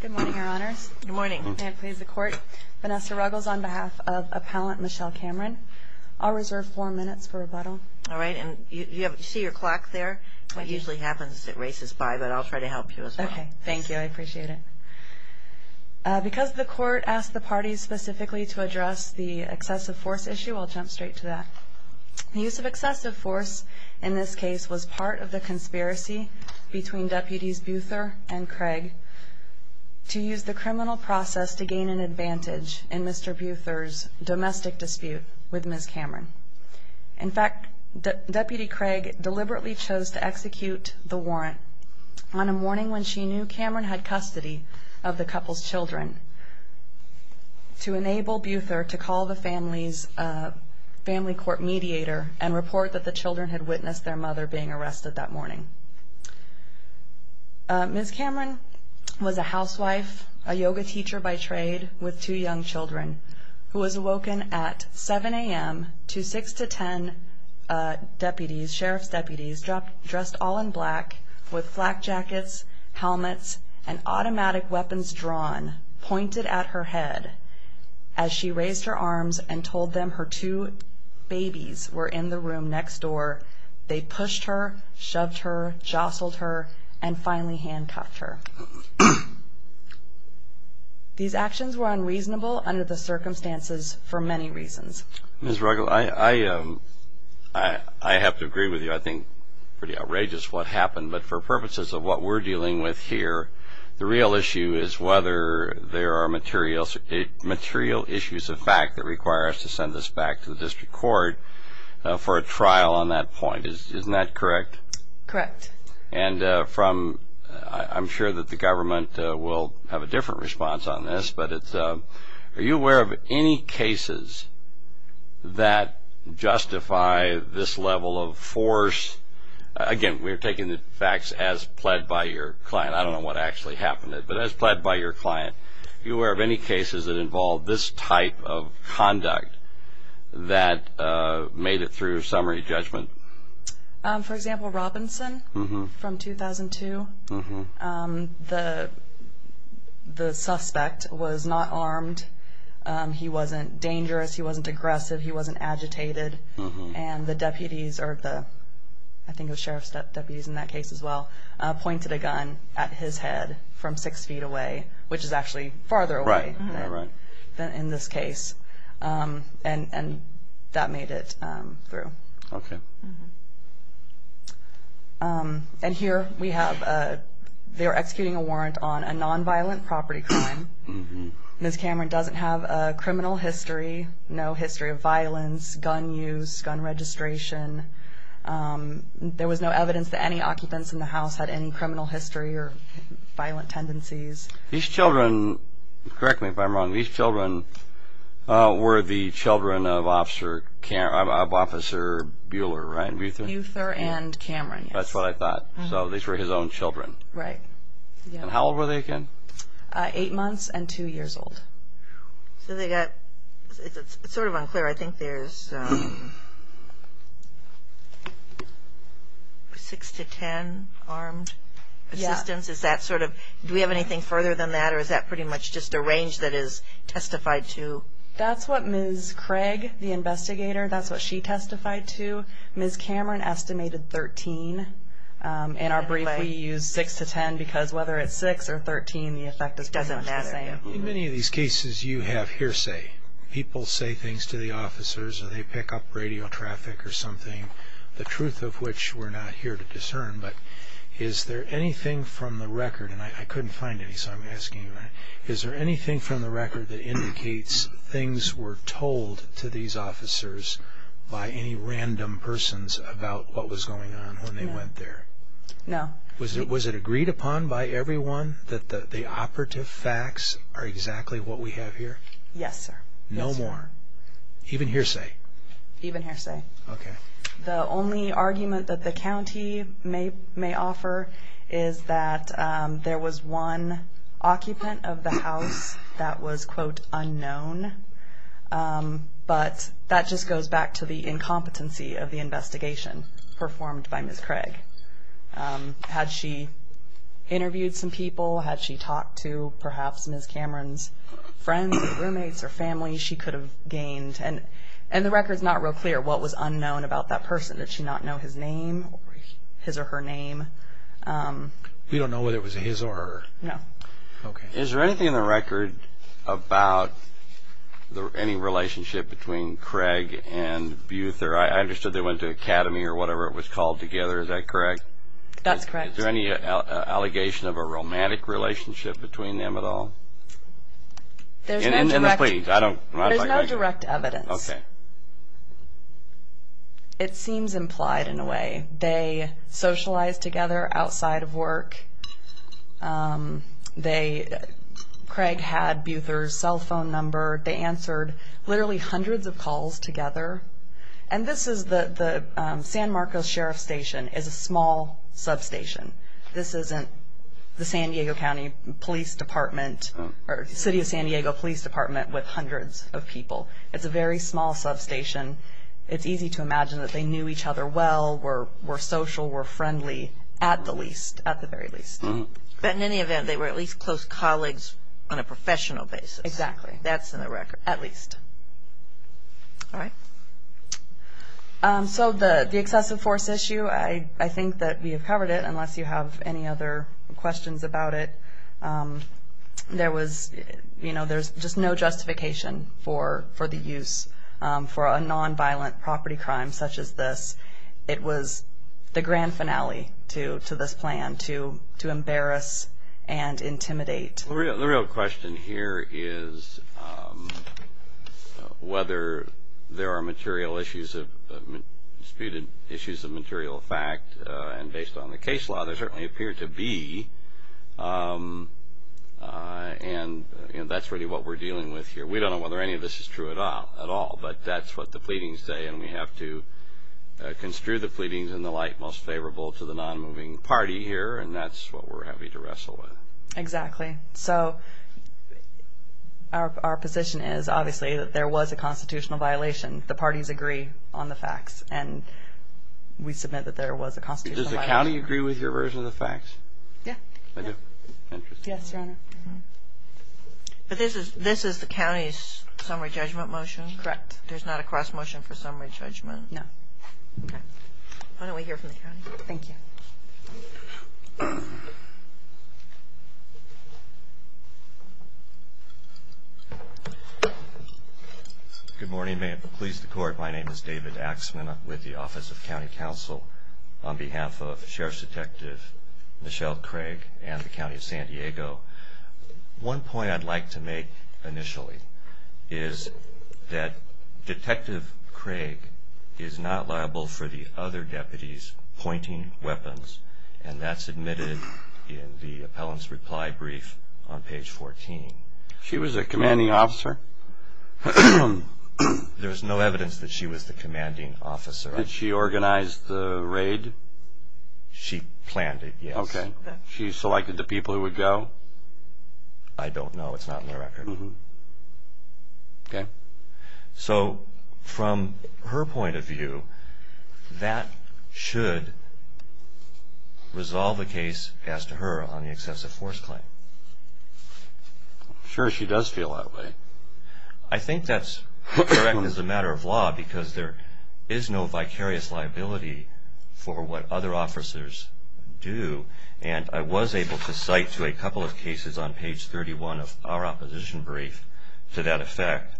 Good morning, your honors. Good morning. May it please the court. Vanessa Ruggles on behalf of appellant Michelle Cameron. I'll reserve four minutes for rebuttal. All right. And you see your clock there? It usually happens as it races by, but I'll try to help you as well. Okay. Thank you. I appreciate it. Because the court asked the parties specifically to address the excessive force issue, I'll jump straight to that. The use of excessive force in this case was part of the conspiracy between deputies Buther and Craig to use the criminal process to gain an advantage in Mr. Buther's domestic dispute with Ms. Cameron. In fact, Deputy Craig deliberately chose to execute the warrant on a morning when she knew Cameron had custody of the couple's children to enable Buther to call the family's family court mediator and report that the children had witnessed their mother being arrested that morning. Ms. Cameron was a housewife, a yoga teacher by trade with two young children who was awoken at 7 a.m. to 6 to 10 sheriff's deputies dressed all in black with flak jackets, helmets, and automatic weapons drawn pointed at her head. As she raised her arms and told them her two babies were in the room next door, they pushed her, shoved her, jostled her, and finally handcuffed her. These actions were unreasonable under the circumstances for many reasons. Ms. Ruggles, I have to agree with you. I think it's pretty outrageous what happened, but for purposes of what we're dealing with here, the real issue is whether there are material issues of fact that require us to send this back to the district court for a trial on that point. Isn't that correct? Correct. I'm sure that the government will have a different response on this, but are you aware of any cases that justify this level of force? Again, we're taking the facts as pled by your client. I don't know what actually happened, but as pled by your client, are you aware of any cases that involve this type of conduct that made it through summary judgment? For example, Robinson from 2002. The suspect was not armed. He wasn't dangerous. He wasn't aggressive. He wasn't agitated. And the deputies, or I think it was sheriff's deputies in that case as well, pointed a gun at his head from six feet away, which is actually farther away than in this case, and that made it through. Okay. And here we have they're executing a warrant on a nonviolent property crime. Ms. Cameron doesn't have a criminal history, no history of violence, gun use, gun registration. There was no evidence that any occupants in the house had any criminal history or violent tendencies. These children, correct me if I'm wrong, these children were the children of Officer Buehler, right? Buehler and Cameron, yes. That's what I thought. So these were his own children. Right. And how old were they again? Eight months and two years old. So they got, it's sort of unclear. I think there's six to ten armed assistants. Is that sort of, do we have anything further than that, or is that pretty much just a range that is testified to? That's what Ms. Craig, the investigator, that's what she testified to. Ms. Cameron estimated 13. In our brief we used six to ten because whether it's six or 13 the effect is pretty much the same. In many of these cases you have hearsay. People say things to the officers or they pick up radio traffic or something, the truth of which we're not here to discern. But is there anything from the record, and I couldn't find any so I'm asking you, is there anything from the record that indicates things were told to these officers by any random persons about what was going on when they went there? No. Was it agreed upon by everyone that the operative facts are exactly what we have here? Yes, sir. No more? Even hearsay? Even hearsay. Okay. The only argument that the county may offer is that there was one occupant of the house that was, quote, unknown. But that just goes back to the incompetency of the investigation performed by Ms. Craig. Had she interviewed some people? Had she talked to perhaps Ms. Cameron's friends or roommates or family? And the record's not real clear what was unknown about that person. Did she not know his name or his or her name? We don't know whether it was his or her. No. Okay. Is there anything in the record about any relationship between Craig and Beuther? I understood they went to academy or whatever it was called together. Is that correct? That's correct. Is there any allegation of a romantic relationship between them at all? There's no direct evidence. Okay. It seems implied in a way. They socialized together outside of work. Craig had Beuther's cell phone number. They answered literally hundreds of calls together. And this is the San Marcos Sheriff's Station is a small substation. This isn't the San Diego County Police Department or City of San Diego Police Department with hundreds of people. It's a very small substation. It's easy to imagine that they knew each other well, were social, were friendly, at the least, at the very least. But in any event, they were at least close colleagues on a professional basis. Exactly. That's in the record. At least. All right. So the excessive force issue, I think that we have covered it, unless you have any other questions about it. There was just no justification for the use for a nonviolent property crime such as this. It was the grand finale to this plan, to embarrass and intimidate. The real question here is whether there are disputed issues of material fact. And based on the case law, there certainly appear to be. And that's really what we're dealing with here. We don't know whether any of this is true at all, but that's what the pleadings say. And we have to construe the pleadings in the light most favorable to the nonmoving party here. And that's what we're happy to wrestle with. Exactly. So our position is, obviously, that there was a constitutional violation. The parties agree on the facts. And we submit that there was a constitutional violation. Does the county agree with your version of the facts? Yeah. I do. Interesting. Yes, Your Honor. But this is the county's summary judgment motion? Correct. There's not a cross motion for summary judgment? No. Okay. Why don't we hear from the county? Thank you. Thank you. Good morning. May it please the Court, my name is David Axman. I'm with the Office of County Counsel on behalf of Sheriff's Detective Michelle Craig and the County of San Diego. One point I'd like to make initially is that Detective Craig is not liable for the other deputies' pointing weapons. And that's admitted in the appellant's reply brief on page 14. She was a commanding officer? There's no evidence that she was the commanding officer. Did she organize the raid? She planned it, yes. Okay. She selected the people who would go? I don't know. It's not in the record. Okay. So from her point of view, that should resolve the case as to her on the excessive force claim. I'm sure she does feel that way. I think that's correct as a matter of law because there is no vicarious liability for what other officers do. And I was able to cite to a couple of cases on page 31 of our opposition brief to that effect.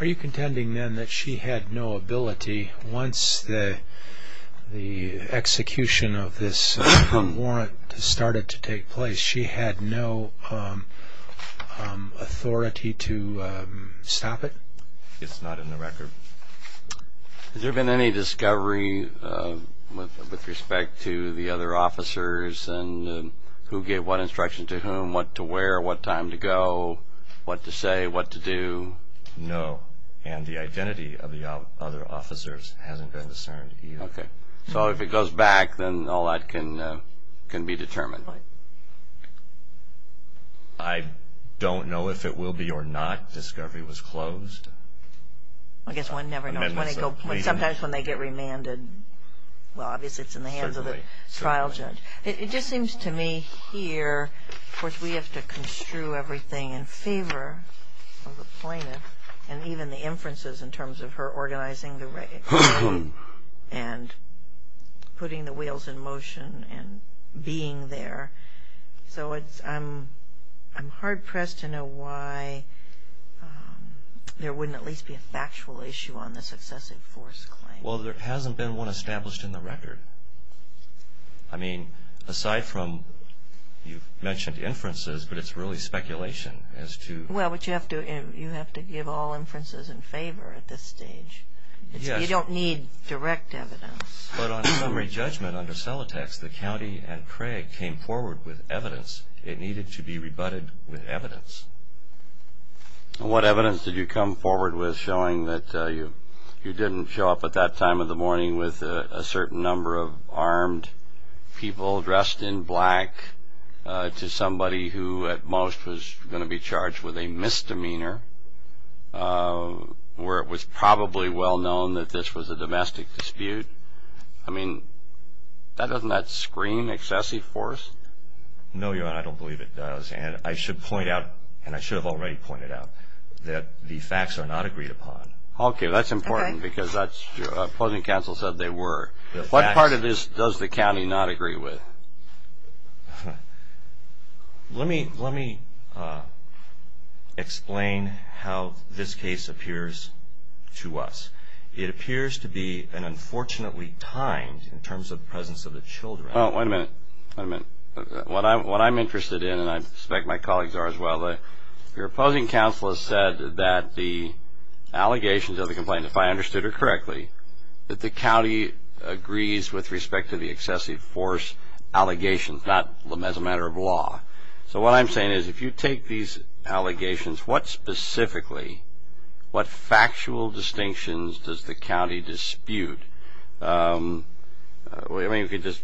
Are you contending then that she had no ability once the execution of this warrant started to take place, she had no authority to stop it? It's not in the record. Has there been any discovery with respect to the other officers and who gave what instruction to whom, what to wear, what time to go, what to say, what to do? No. And the identity of the other officers hasn't been discerned either. Okay. So if it goes back, then all that can be determined. Right. I don't know if it will be or not. Discovery was closed. I guess one never knows. Sometimes when they get remanded, well, obviously it's in the hands of the trial judge. It just seems to me here, of course, we have to construe everything in favor of the plaintiff and even the inferences in terms of her organizing the raid and putting the wheels in motion and being there. So I'm hard-pressed to know why there wouldn't at least be a factual issue on this excessive force claim. Well, there hasn't been one established in the record. I mean, aside from you mentioned inferences, but it's really speculation as to… Well, but you have to give all inferences in favor at this stage. Yes. You don't need direct evidence. But on summary judgment under Celotex, the county and Craig came forward with evidence. It needed to be rebutted with evidence. What evidence did you come forward with showing that you didn't show up at that time of the morning with a certain number of armed people dressed in black to somebody who at most was going to be charged with a misdemeanor, where it was probably well known that this was a domestic dispute? I mean, doesn't that screen excessive force? No, Your Honor. I don't believe it does. And I should point out, and I should have already pointed out, that the facts are not agreed upon. Okay. That's important because opposing counsel said they were. What part of this does the county not agree with? Let me explain how this case appears to us. It appears to be an unfortunately timed in terms of the presence of the children. Oh, wait a minute. Wait a minute. What I'm interested in, and I suspect my colleagues are as well, your opposing counsel has said that the allegations of the complaint, if I understood it correctly, that the county agrees with respect to the excessive force allegations, not as a matter of law. So what I'm saying is if you take these allegations, what specifically, what factual distinctions does the county dispute? I mean, if you just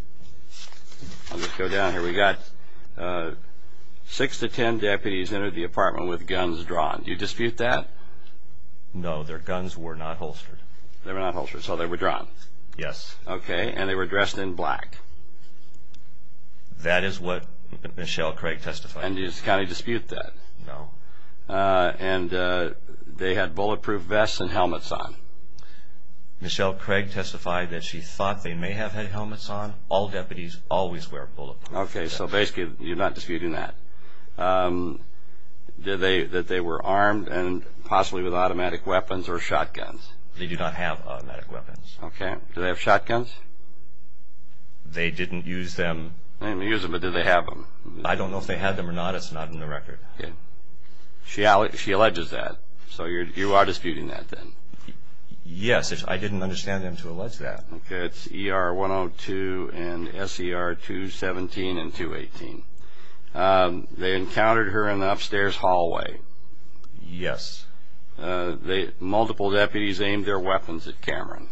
go down here. We've got six to ten deputies enter the apartment with guns drawn. Do you dispute that? No. Their guns were not holstered. They were not holstered. So they were drawn. Yes. Okay. And they were dressed in black. That is what Michelle Craig testified. And does the county dispute that? No. And they had bulletproof vests and helmets on. Michelle Craig testified that she thought they may have had helmets on. All deputies always wear bulletproof vests. Okay. So basically you're not disputing that. That they were armed and possibly with automatic weapons or shotguns. They do not have automatic weapons. Okay. Do they have shotguns? They didn't use them. They didn't use them, but did they have them? I don't know if they had them or not. It's not in the record. Okay. She alleges that. So you are disputing that then? Yes. I didn't understand them to allege that. Okay. It's ER-102 and SER-217 and 218. They encountered her in the upstairs hallway. Yes. Multiple deputies aimed their weapons at Cameron.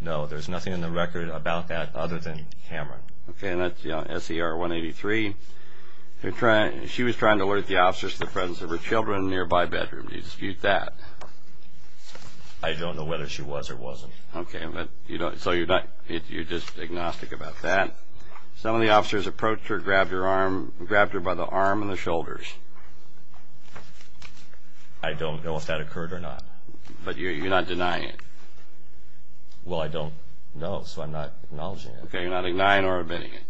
No, there's nothing in the record about that other than Cameron. Okay. And that's SER-183. She was trying to alert the officers to the presence of her children in a nearby bedroom. Do you dispute that? I don't know whether she was or wasn't. Okay. So you're just agnostic about that. Some of the officers approached her, grabbed her by the arm and the shoulders. I don't know if that occurred or not. But you're not denying it? Well, I don't know, so I'm not acknowledging it. Okay. You're not denying or admitting it?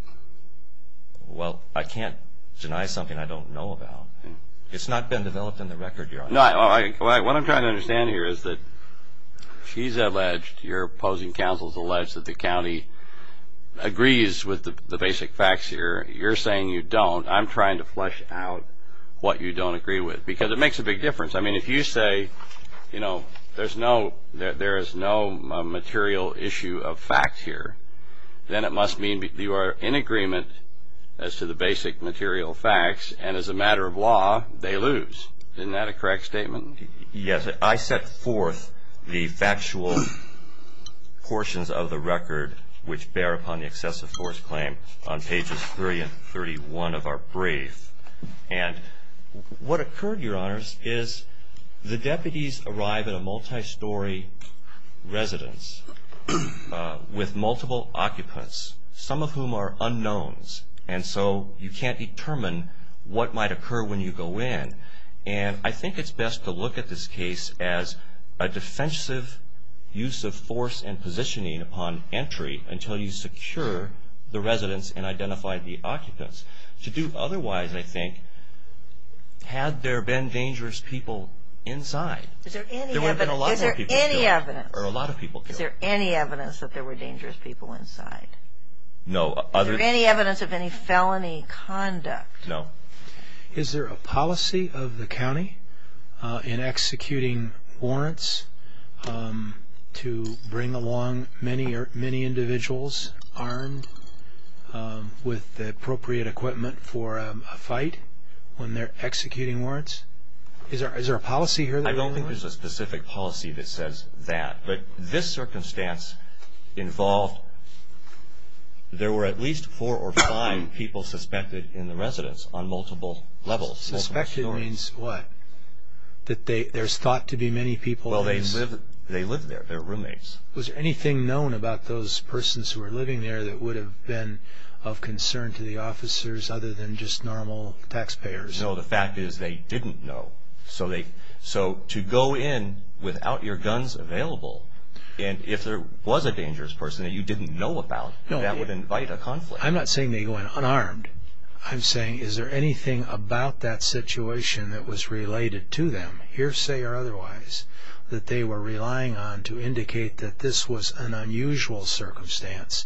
Well, I can't deny something I don't know about. It's not been developed in the record, Your Honor. No, what I'm trying to understand here is that she's alleged, your opposing counsel has alleged that the county agrees with the basic facts here. You're saying you don't. I'm trying to flesh out what you don't agree with because it makes a big difference. I mean, if you say, you know, there is no material issue of facts here, then it must mean you are in agreement as to the basic material facts, and as a matter of law, they lose. Isn't that a correct statement? Yes. I set forth the factual portions of the record, which bear upon the excessive force claim on pages 3 and 31 of our brief. And what occurred, Your Honors, is the deputies arrive at a multi-story residence with multiple occupants, some of whom are unknowns, and so you can't determine what might occur when you go in. And I think it's best to look at this case as a defensive use of force and positioning upon entry until you secure the residence and identify the occupants. To do otherwise, I think, had there been dangerous people inside, there would have been a lot more people killed. Is there any evidence? Or a lot of people killed. Is there any evidence that there were dangerous people inside? No. Is there any evidence of any felony conduct? No. Is there a policy of the county in executing warrants to bring along many individuals armed with the appropriate equipment for a fight when they're executing warrants? Is there a policy here? I don't think there's a specific policy that says that. But this circumstance involved there were at least four or five people suspected in the residence on multiple levels, multiple stories. Suspected means what? That there's thought to be many people in this? Well, they lived there. They were roommates. Was there anything known about those persons who were living there that would have been of concern to the officers other than just normal taxpayers? No. The fact is they didn't know. So to go in without your guns available, and if there was a dangerous person that you didn't know about, that would invite a conflict. I'm not saying they went unarmed. I'm saying is there anything about that situation that was related to them, hearsay or otherwise, that they were relying on to indicate that this was an unusual circumstance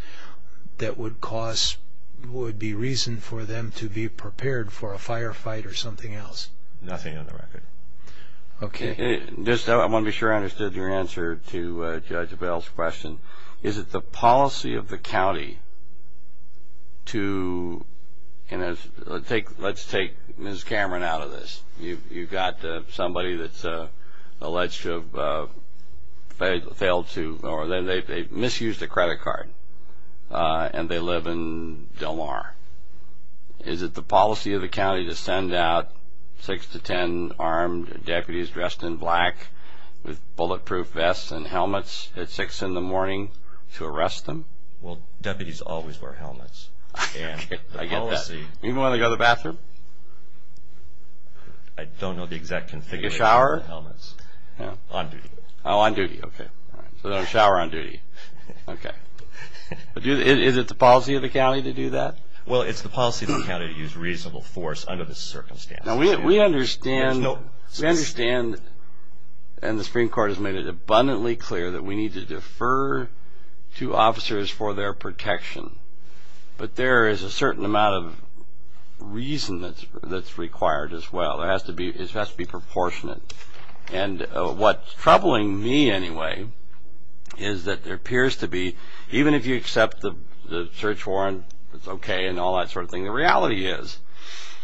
that would be reason for them to be prepared for a firefight or something else? Nothing on the record. Okay. I want to be sure I understood your answer to Judge Bell's question. Is it the policy of the county to take Ms. Cameron out of this? You've got somebody that's alleged to have failed to or they misused a credit card and they live in Del Mar. Is it the policy of the county to send out six to ten armed deputies dressed in black with bulletproof vests and helmets at six in the morning to arrest them? Well, deputies always wear helmets. Okay. I get that. Even when they go to the bathroom? I don't know the exact configuration. In the shower? Helmets. On duty. Oh, on duty. Okay. So they don't shower on duty. Okay. Is it the policy of the county to do that? Well, it's the policy of the county to use reasonable force under this circumstance. We understand, and the Supreme Court has made it abundantly clear, that we need to defer two officers for their protection. But there is a certain amount of reason that's required as well. It has to be proportionate. And what's troubling me anyway is that there appears to be, even if you accept the search warrant, it's okay and all that sort of thing, the reality is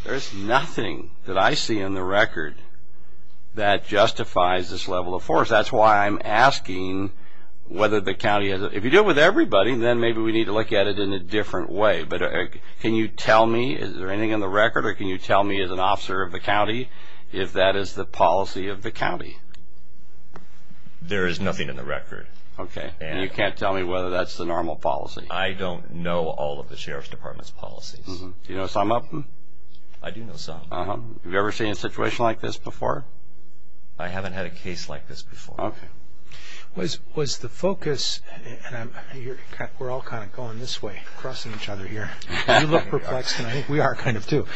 there's nothing that I see in the record that justifies this level of force. That's why I'm asking whether the county has it. If you deal with everybody, then maybe we need to look at it in a different way. But can you tell me, is there anything in the record, or can you tell me as an officer of the county if that is the policy of the county? There is nothing in the record. Okay. And you can't tell me whether that's the normal policy. I don't know all of the Sheriff's Department's policies. Do you know some of them? I do know some. Have you ever seen a situation like this before? I haven't had a case like this before. Okay. Was the focus, and we're all kind of going this way, crossing each other here. You look perplexed, and I think we are kind of too.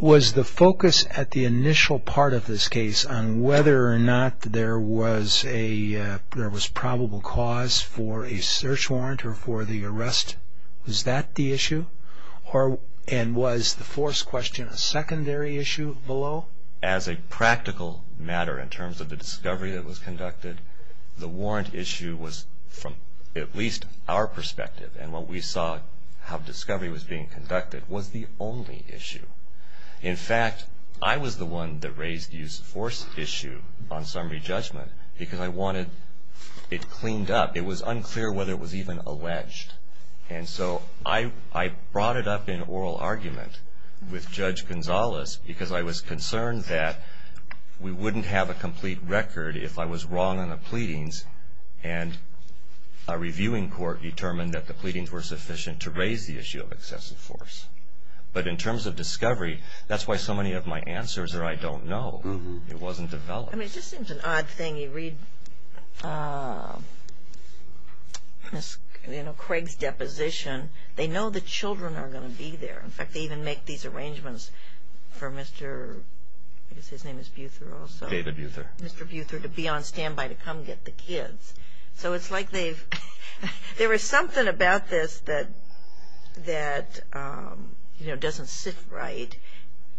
Was the focus at the initial part of this case on whether or not there was probable cause for a search warrant or for the arrest, was that the issue? And was the force question a secondary issue below? As a practical matter in terms of the discovery that was conducted, the warrant issue was from at least our perspective. And what we saw how discovery was being conducted was the only issue. In fact, I was the one that raised the use of force issue on summary judgment because I wanted it cleaned up. It was unclear whether it was even alleged. And so I brought it up in oral argument with Judge Gonzalez because I was concerned that we wouldn't have a complete record if I was wrong on the pleadings, and a reviewing court determined that the pleadings were sufficient to raise the issue of excessive force. But in terms of discovery, that's why so many of my answers are I don't know. It wasn't developed. I mean, it just seems an odd thing. You read Craig's deposition. They know the children are going to be there. In fact, they even make these arrangements for Mr. I guess his name is Buther also. David Buther. Mr. Buther to be on standby to come get the kids. So it's like there was something about this that doesn't sit right.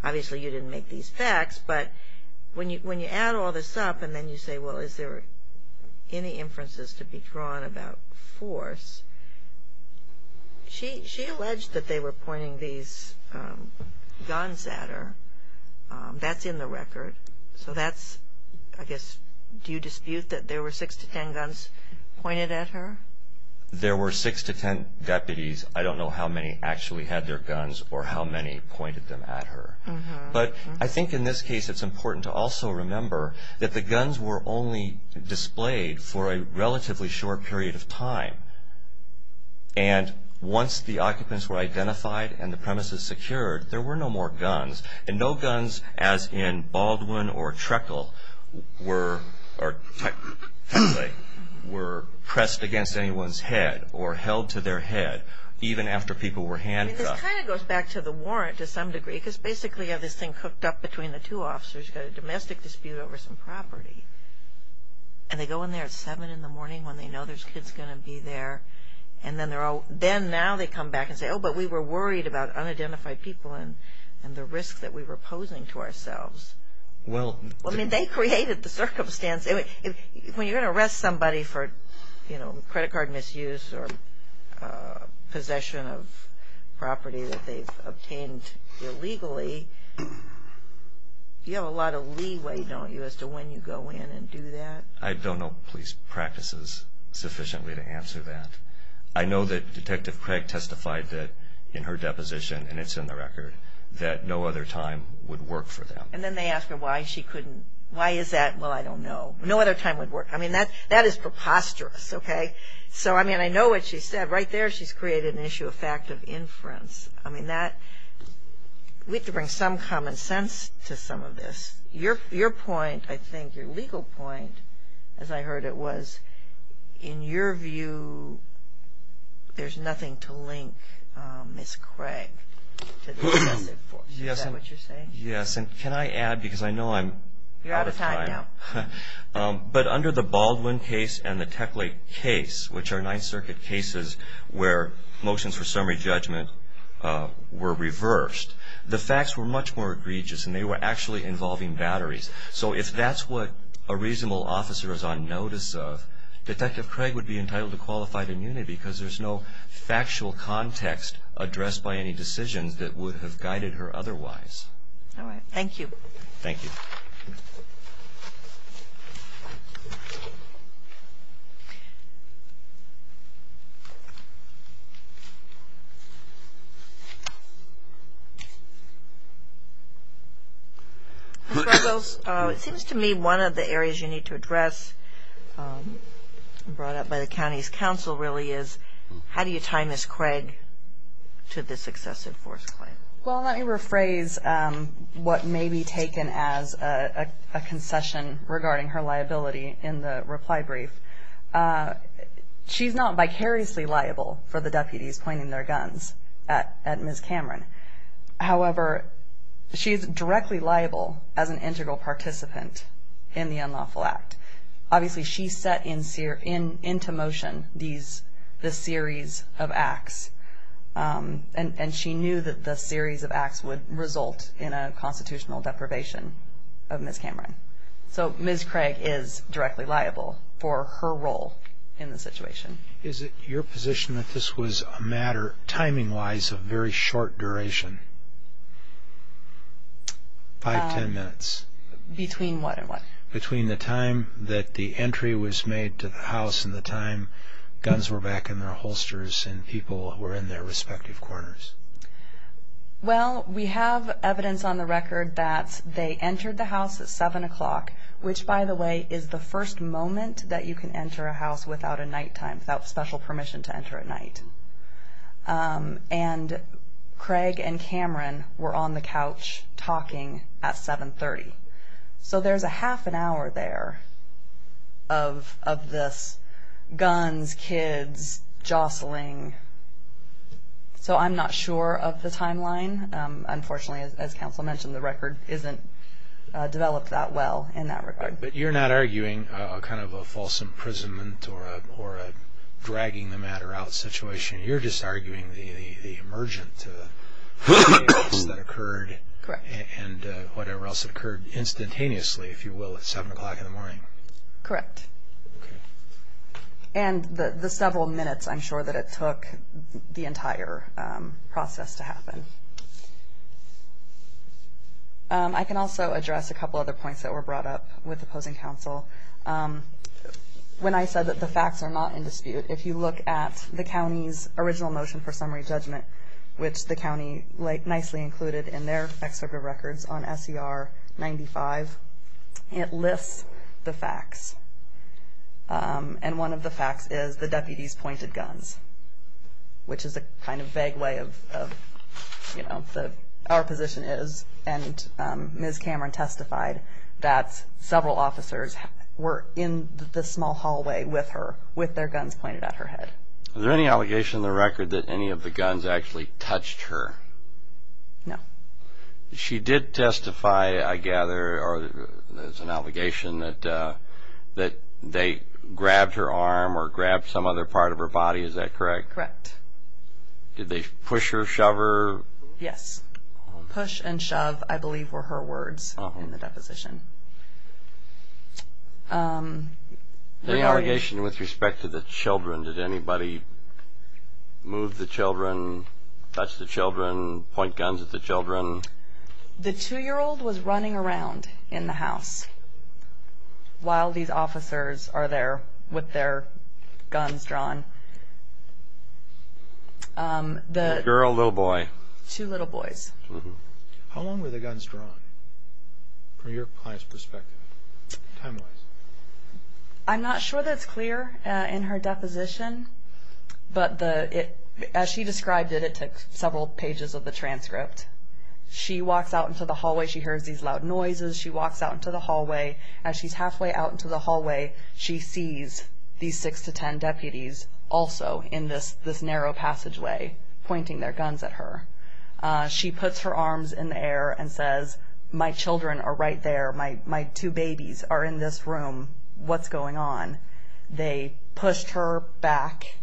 Obviously, you didn't make these facts. But when you add all this up and then you say, well, is there any inferences to be drawn about force? She alleged that they were pointing these guns at her. That's in the record. So that's I guess do you dispute that there were six to ten guns pointed at her? There were six to ten deputies. I don't know how many actually had their guns or how many pointed them at her. But I think in this case it's important to also remember that the guns were only displayed for a relatively short period of time. And once the occupants were identified and the premises secured, there were no more guns. And no guns as in Baldwin or Trekle were pressed against anyone's head or held to their head even after people were handcuffed. This kind of goes back to the warrant to some degree because basically you have this thing hooked up between the two officers. You've got a domestic dispute over some property. And they go in there at 7 in the morning when they know there's kids going to be there. And then now they come back and say, oh, but we were worried about unidentified people and the risk that we were posing to ourselves. I mean, they created the circumstance. When you're going to arrest somebody for credit card misuse or possession of property that they've obtained illegally, you have a lot of leeway, don't you, as to when you go in and do that? I don't know police practices sufficiently to answer that. I know that Detective Craig testified that in her deposition, and it's in the record, that no other time would work for them. And then they ask her why she couldn't. Why is that? Well, I don't know. No other time would work. I mean, that is preposterous, okay? So, I mean, I know what she said. Right there she's created an issue of fact of inference. I mean, we have to bring some common sense to some of this. Your point, I think, your legal point, as I heard it was, in your view, there's nothing to link Ms. Craig to the defendant. Is that what you're saying? Yes, and can I add, because I know I'm out of time. You're out of time now. But under the Baldwin case and the Tech Lake case, which are Ninth Circuit cases where motions for summary judgment were reversed, the facts were much more egregious, and they were actually involving batteries. So if that's what a reasonable officer is on notice of, Detective Craig would be entitled to qualified immunity because there's no factual context addressed by any decisions that would have guided her otherwise. All right. Thank you. Thank you. Ms. Ruggles, it seems to me one of the areas you need to address, brought up by the county's counsel really, is how do you tie Ms. Craig to this excessive force claim? Well, let me rephrase what may be taken as a concession regarding her liability in the reply brief. She's not vicariously liable for the deputies pointing their guns at Ms. Cameron. However, she is directly liable as an integral participant in the unlawful act. Obviously, she set into motion this series of acts, and she knew that the series of acts would result in a constitutional deprivation of Ms. Cameron. So Ms. Craig is directly liable for her role in the situation. Is it your position that this was a matter, timing-wise, of very short duration? Five, ten minutes? Between what and what? Between the time that the entry was made to the house and the time guns were back in their holsters and people were in their respective corners. Well, we have evidence on the record that they entered the house at 7 o'clock, which, by the way, is the first moment that you can enter a house without a nighttime, without special permission to enter at night. And Craig and Cameron were on the couch talking at 7.30. So there's a half an hour there of this guns, kids, jostling. So I'm not sure of the timeline. Unfortunately, as counsel mentioned, the record isn't developed that well in that regard. But you're not arguing kind of a false imprisonment or a dragging the matter out situation. You're just arguing the emergent events that occurred and whatever else occurred instantaneously, if you will, at 7 o'clock in the morning. Correct. And the several minutes, I'm sure that it took the entire process to happen. I can also address a couple other points that were brought up with opposing counsel. When I said that the facts are not in dispute, if you look at the county's original motion for summary judgment, which the county nicely included in their excerpt of records on S.E.R. 95, it lists the facts. And one of the facts is the deputies pointed guns, which is a kind of vague way of, you know, our position is. And Ms. Cameron testified that several officers were in the small hallway with her with their guns pointed at her head. Is there any allegation in the record that any of the guns actually touched her? No. She did testify, I gather, or there's an allegation that they grabbed her arm or grabbed some other part of her body. Is that correct? Correct. Did they push her, shove her? Yes. Push and shove, I believe, were her words in the deposition. Any allegation with respect to the children? Did anybody move the children, touch the children, point guns at the children? The 2-year-old was running around in the house while these officers are there with their guns drawn. The girl or little boy? Two little boys. How long were the guns drawn from your client's perspective, time-wise? I'm not sure that it's clear in her deposition, but as she described it, it took several pages of the transcript. She walks out into the hallway. She hears these loud noises. She walks out into the hallway. As she's halfway out into the hallway, she sees these 6 to 10 deputies also in this narrow passageway pointing their guns at her. She puts her arms in the air and says, My children are right there. My two babies are in this room. What's going on? They pushed her back,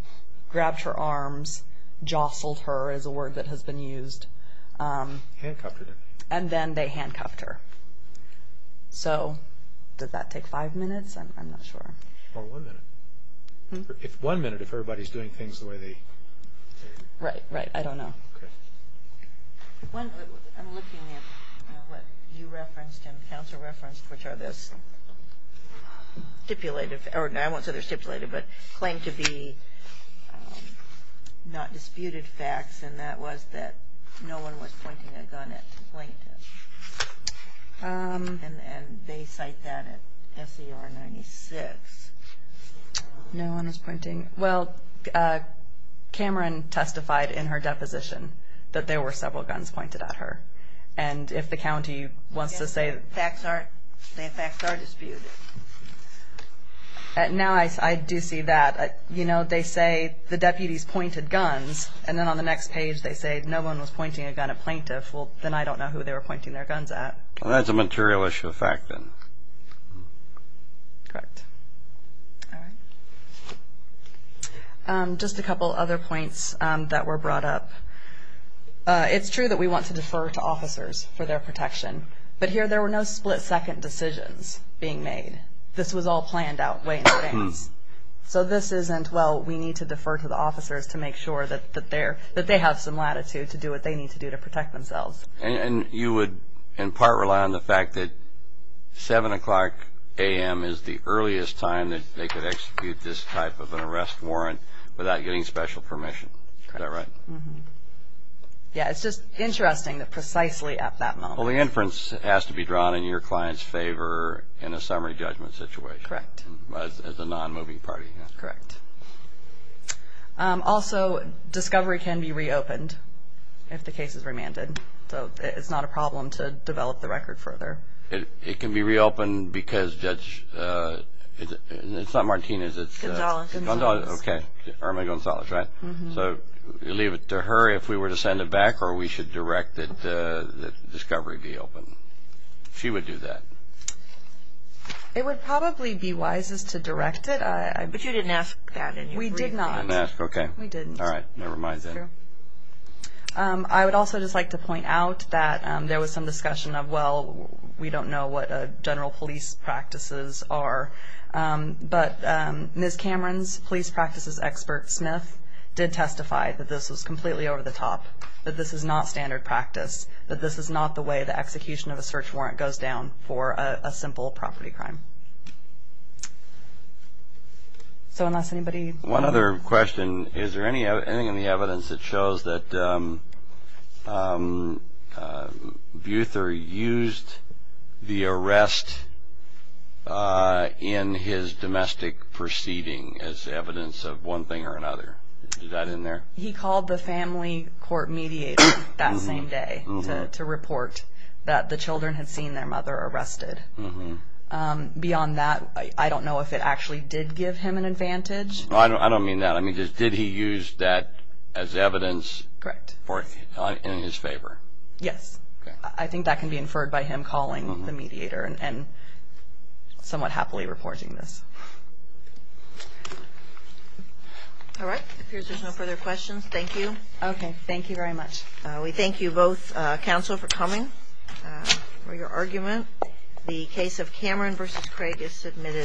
grabbed her arms, jostled her is a word that has been used. Handcuffed her. And then they handcuffed her. So did that take 5 minutes? I'm not sure. Or 1 minute. If 1 minute, if everybody's doing things the way they should. Right, right. I don't know. I'm looking at what you referenced and counsel referenced, which are this stipulated, or I won't say they're stipulated, but claimed to be not disputed facts, and that was that no one was pointing a gun at the plaintiff. And they cite that at SER 96. No one was pointing. Well, Cameron testified in her deposition that there were several guns pointed at her. And if the county wants to say facts are disputed. Now I do see that. You know, they say the deputies pointed guns, and then on the next page they say no one was pointing a gun at plaintiff. Well, then I don't know who they were pointing their guns at. That's a material issue of fact then. Correct. All right. Just a couple other points that were brought up. It's true that we want to defer to officers for their protection, but here there were no split-second decisions being made. This was all planned out way in advance. So this isn't, well, we need to defer to the officers to make sure that they have some latitude to do what they need to do to protect themselves. And you would in part rely on the fact that 7 o'clock a.m. is the earliest time that they could execute this type of an arrest warrant without getting special permission. Is that right? Yeah, it's just interesting that precisely at that moment. Well, the inference has to be drawn in your client's favor in a summary judgment situation. Correct. As a non-moving party. Correct. Also, discovery can be reopened if the case is remanded. So it's not a problem to develop the record further. It can be reopened because Judge, it's not Martinez. Gonzales. Okay, Irma Gonzales, right? So you leave it to her if we were to send it back or we should direct that discovery be opened. She would do that. It would probably be wisest to direct it. But you didn't ask that. We did not. Okay. We didn't. All right. Never mind then. I would also just like to point out that there was some discussion of, well, we don't know what general police practices are. But Ms. Cameron's police practices expert, Smith, did testify that this was completely over the top, that this is not standard practice, that this is not the way the execution of a search warrant goes down for a simple property crime. So unless anybody. One other question. Is there anything in the evidence that shows that Buther used the arrest in his domestic proceeding as evidence of one thing or another? Is that in there? He called the family court mediator that same day to report that the children had seen their mother arrested. Beyond that, I don't know if it actually did give him an advantage. I don't mean that. I mean, did he use that as evidence in his favor? Yes. I think that can be inferred by him calling the mediator and somewhat happily reporting this. All right. It appears there's no further questions. Thank you. Okay. Thank you very much. We thank you both, counsel, for coming, for your argument. The case of Cameron v. Craig is submitted.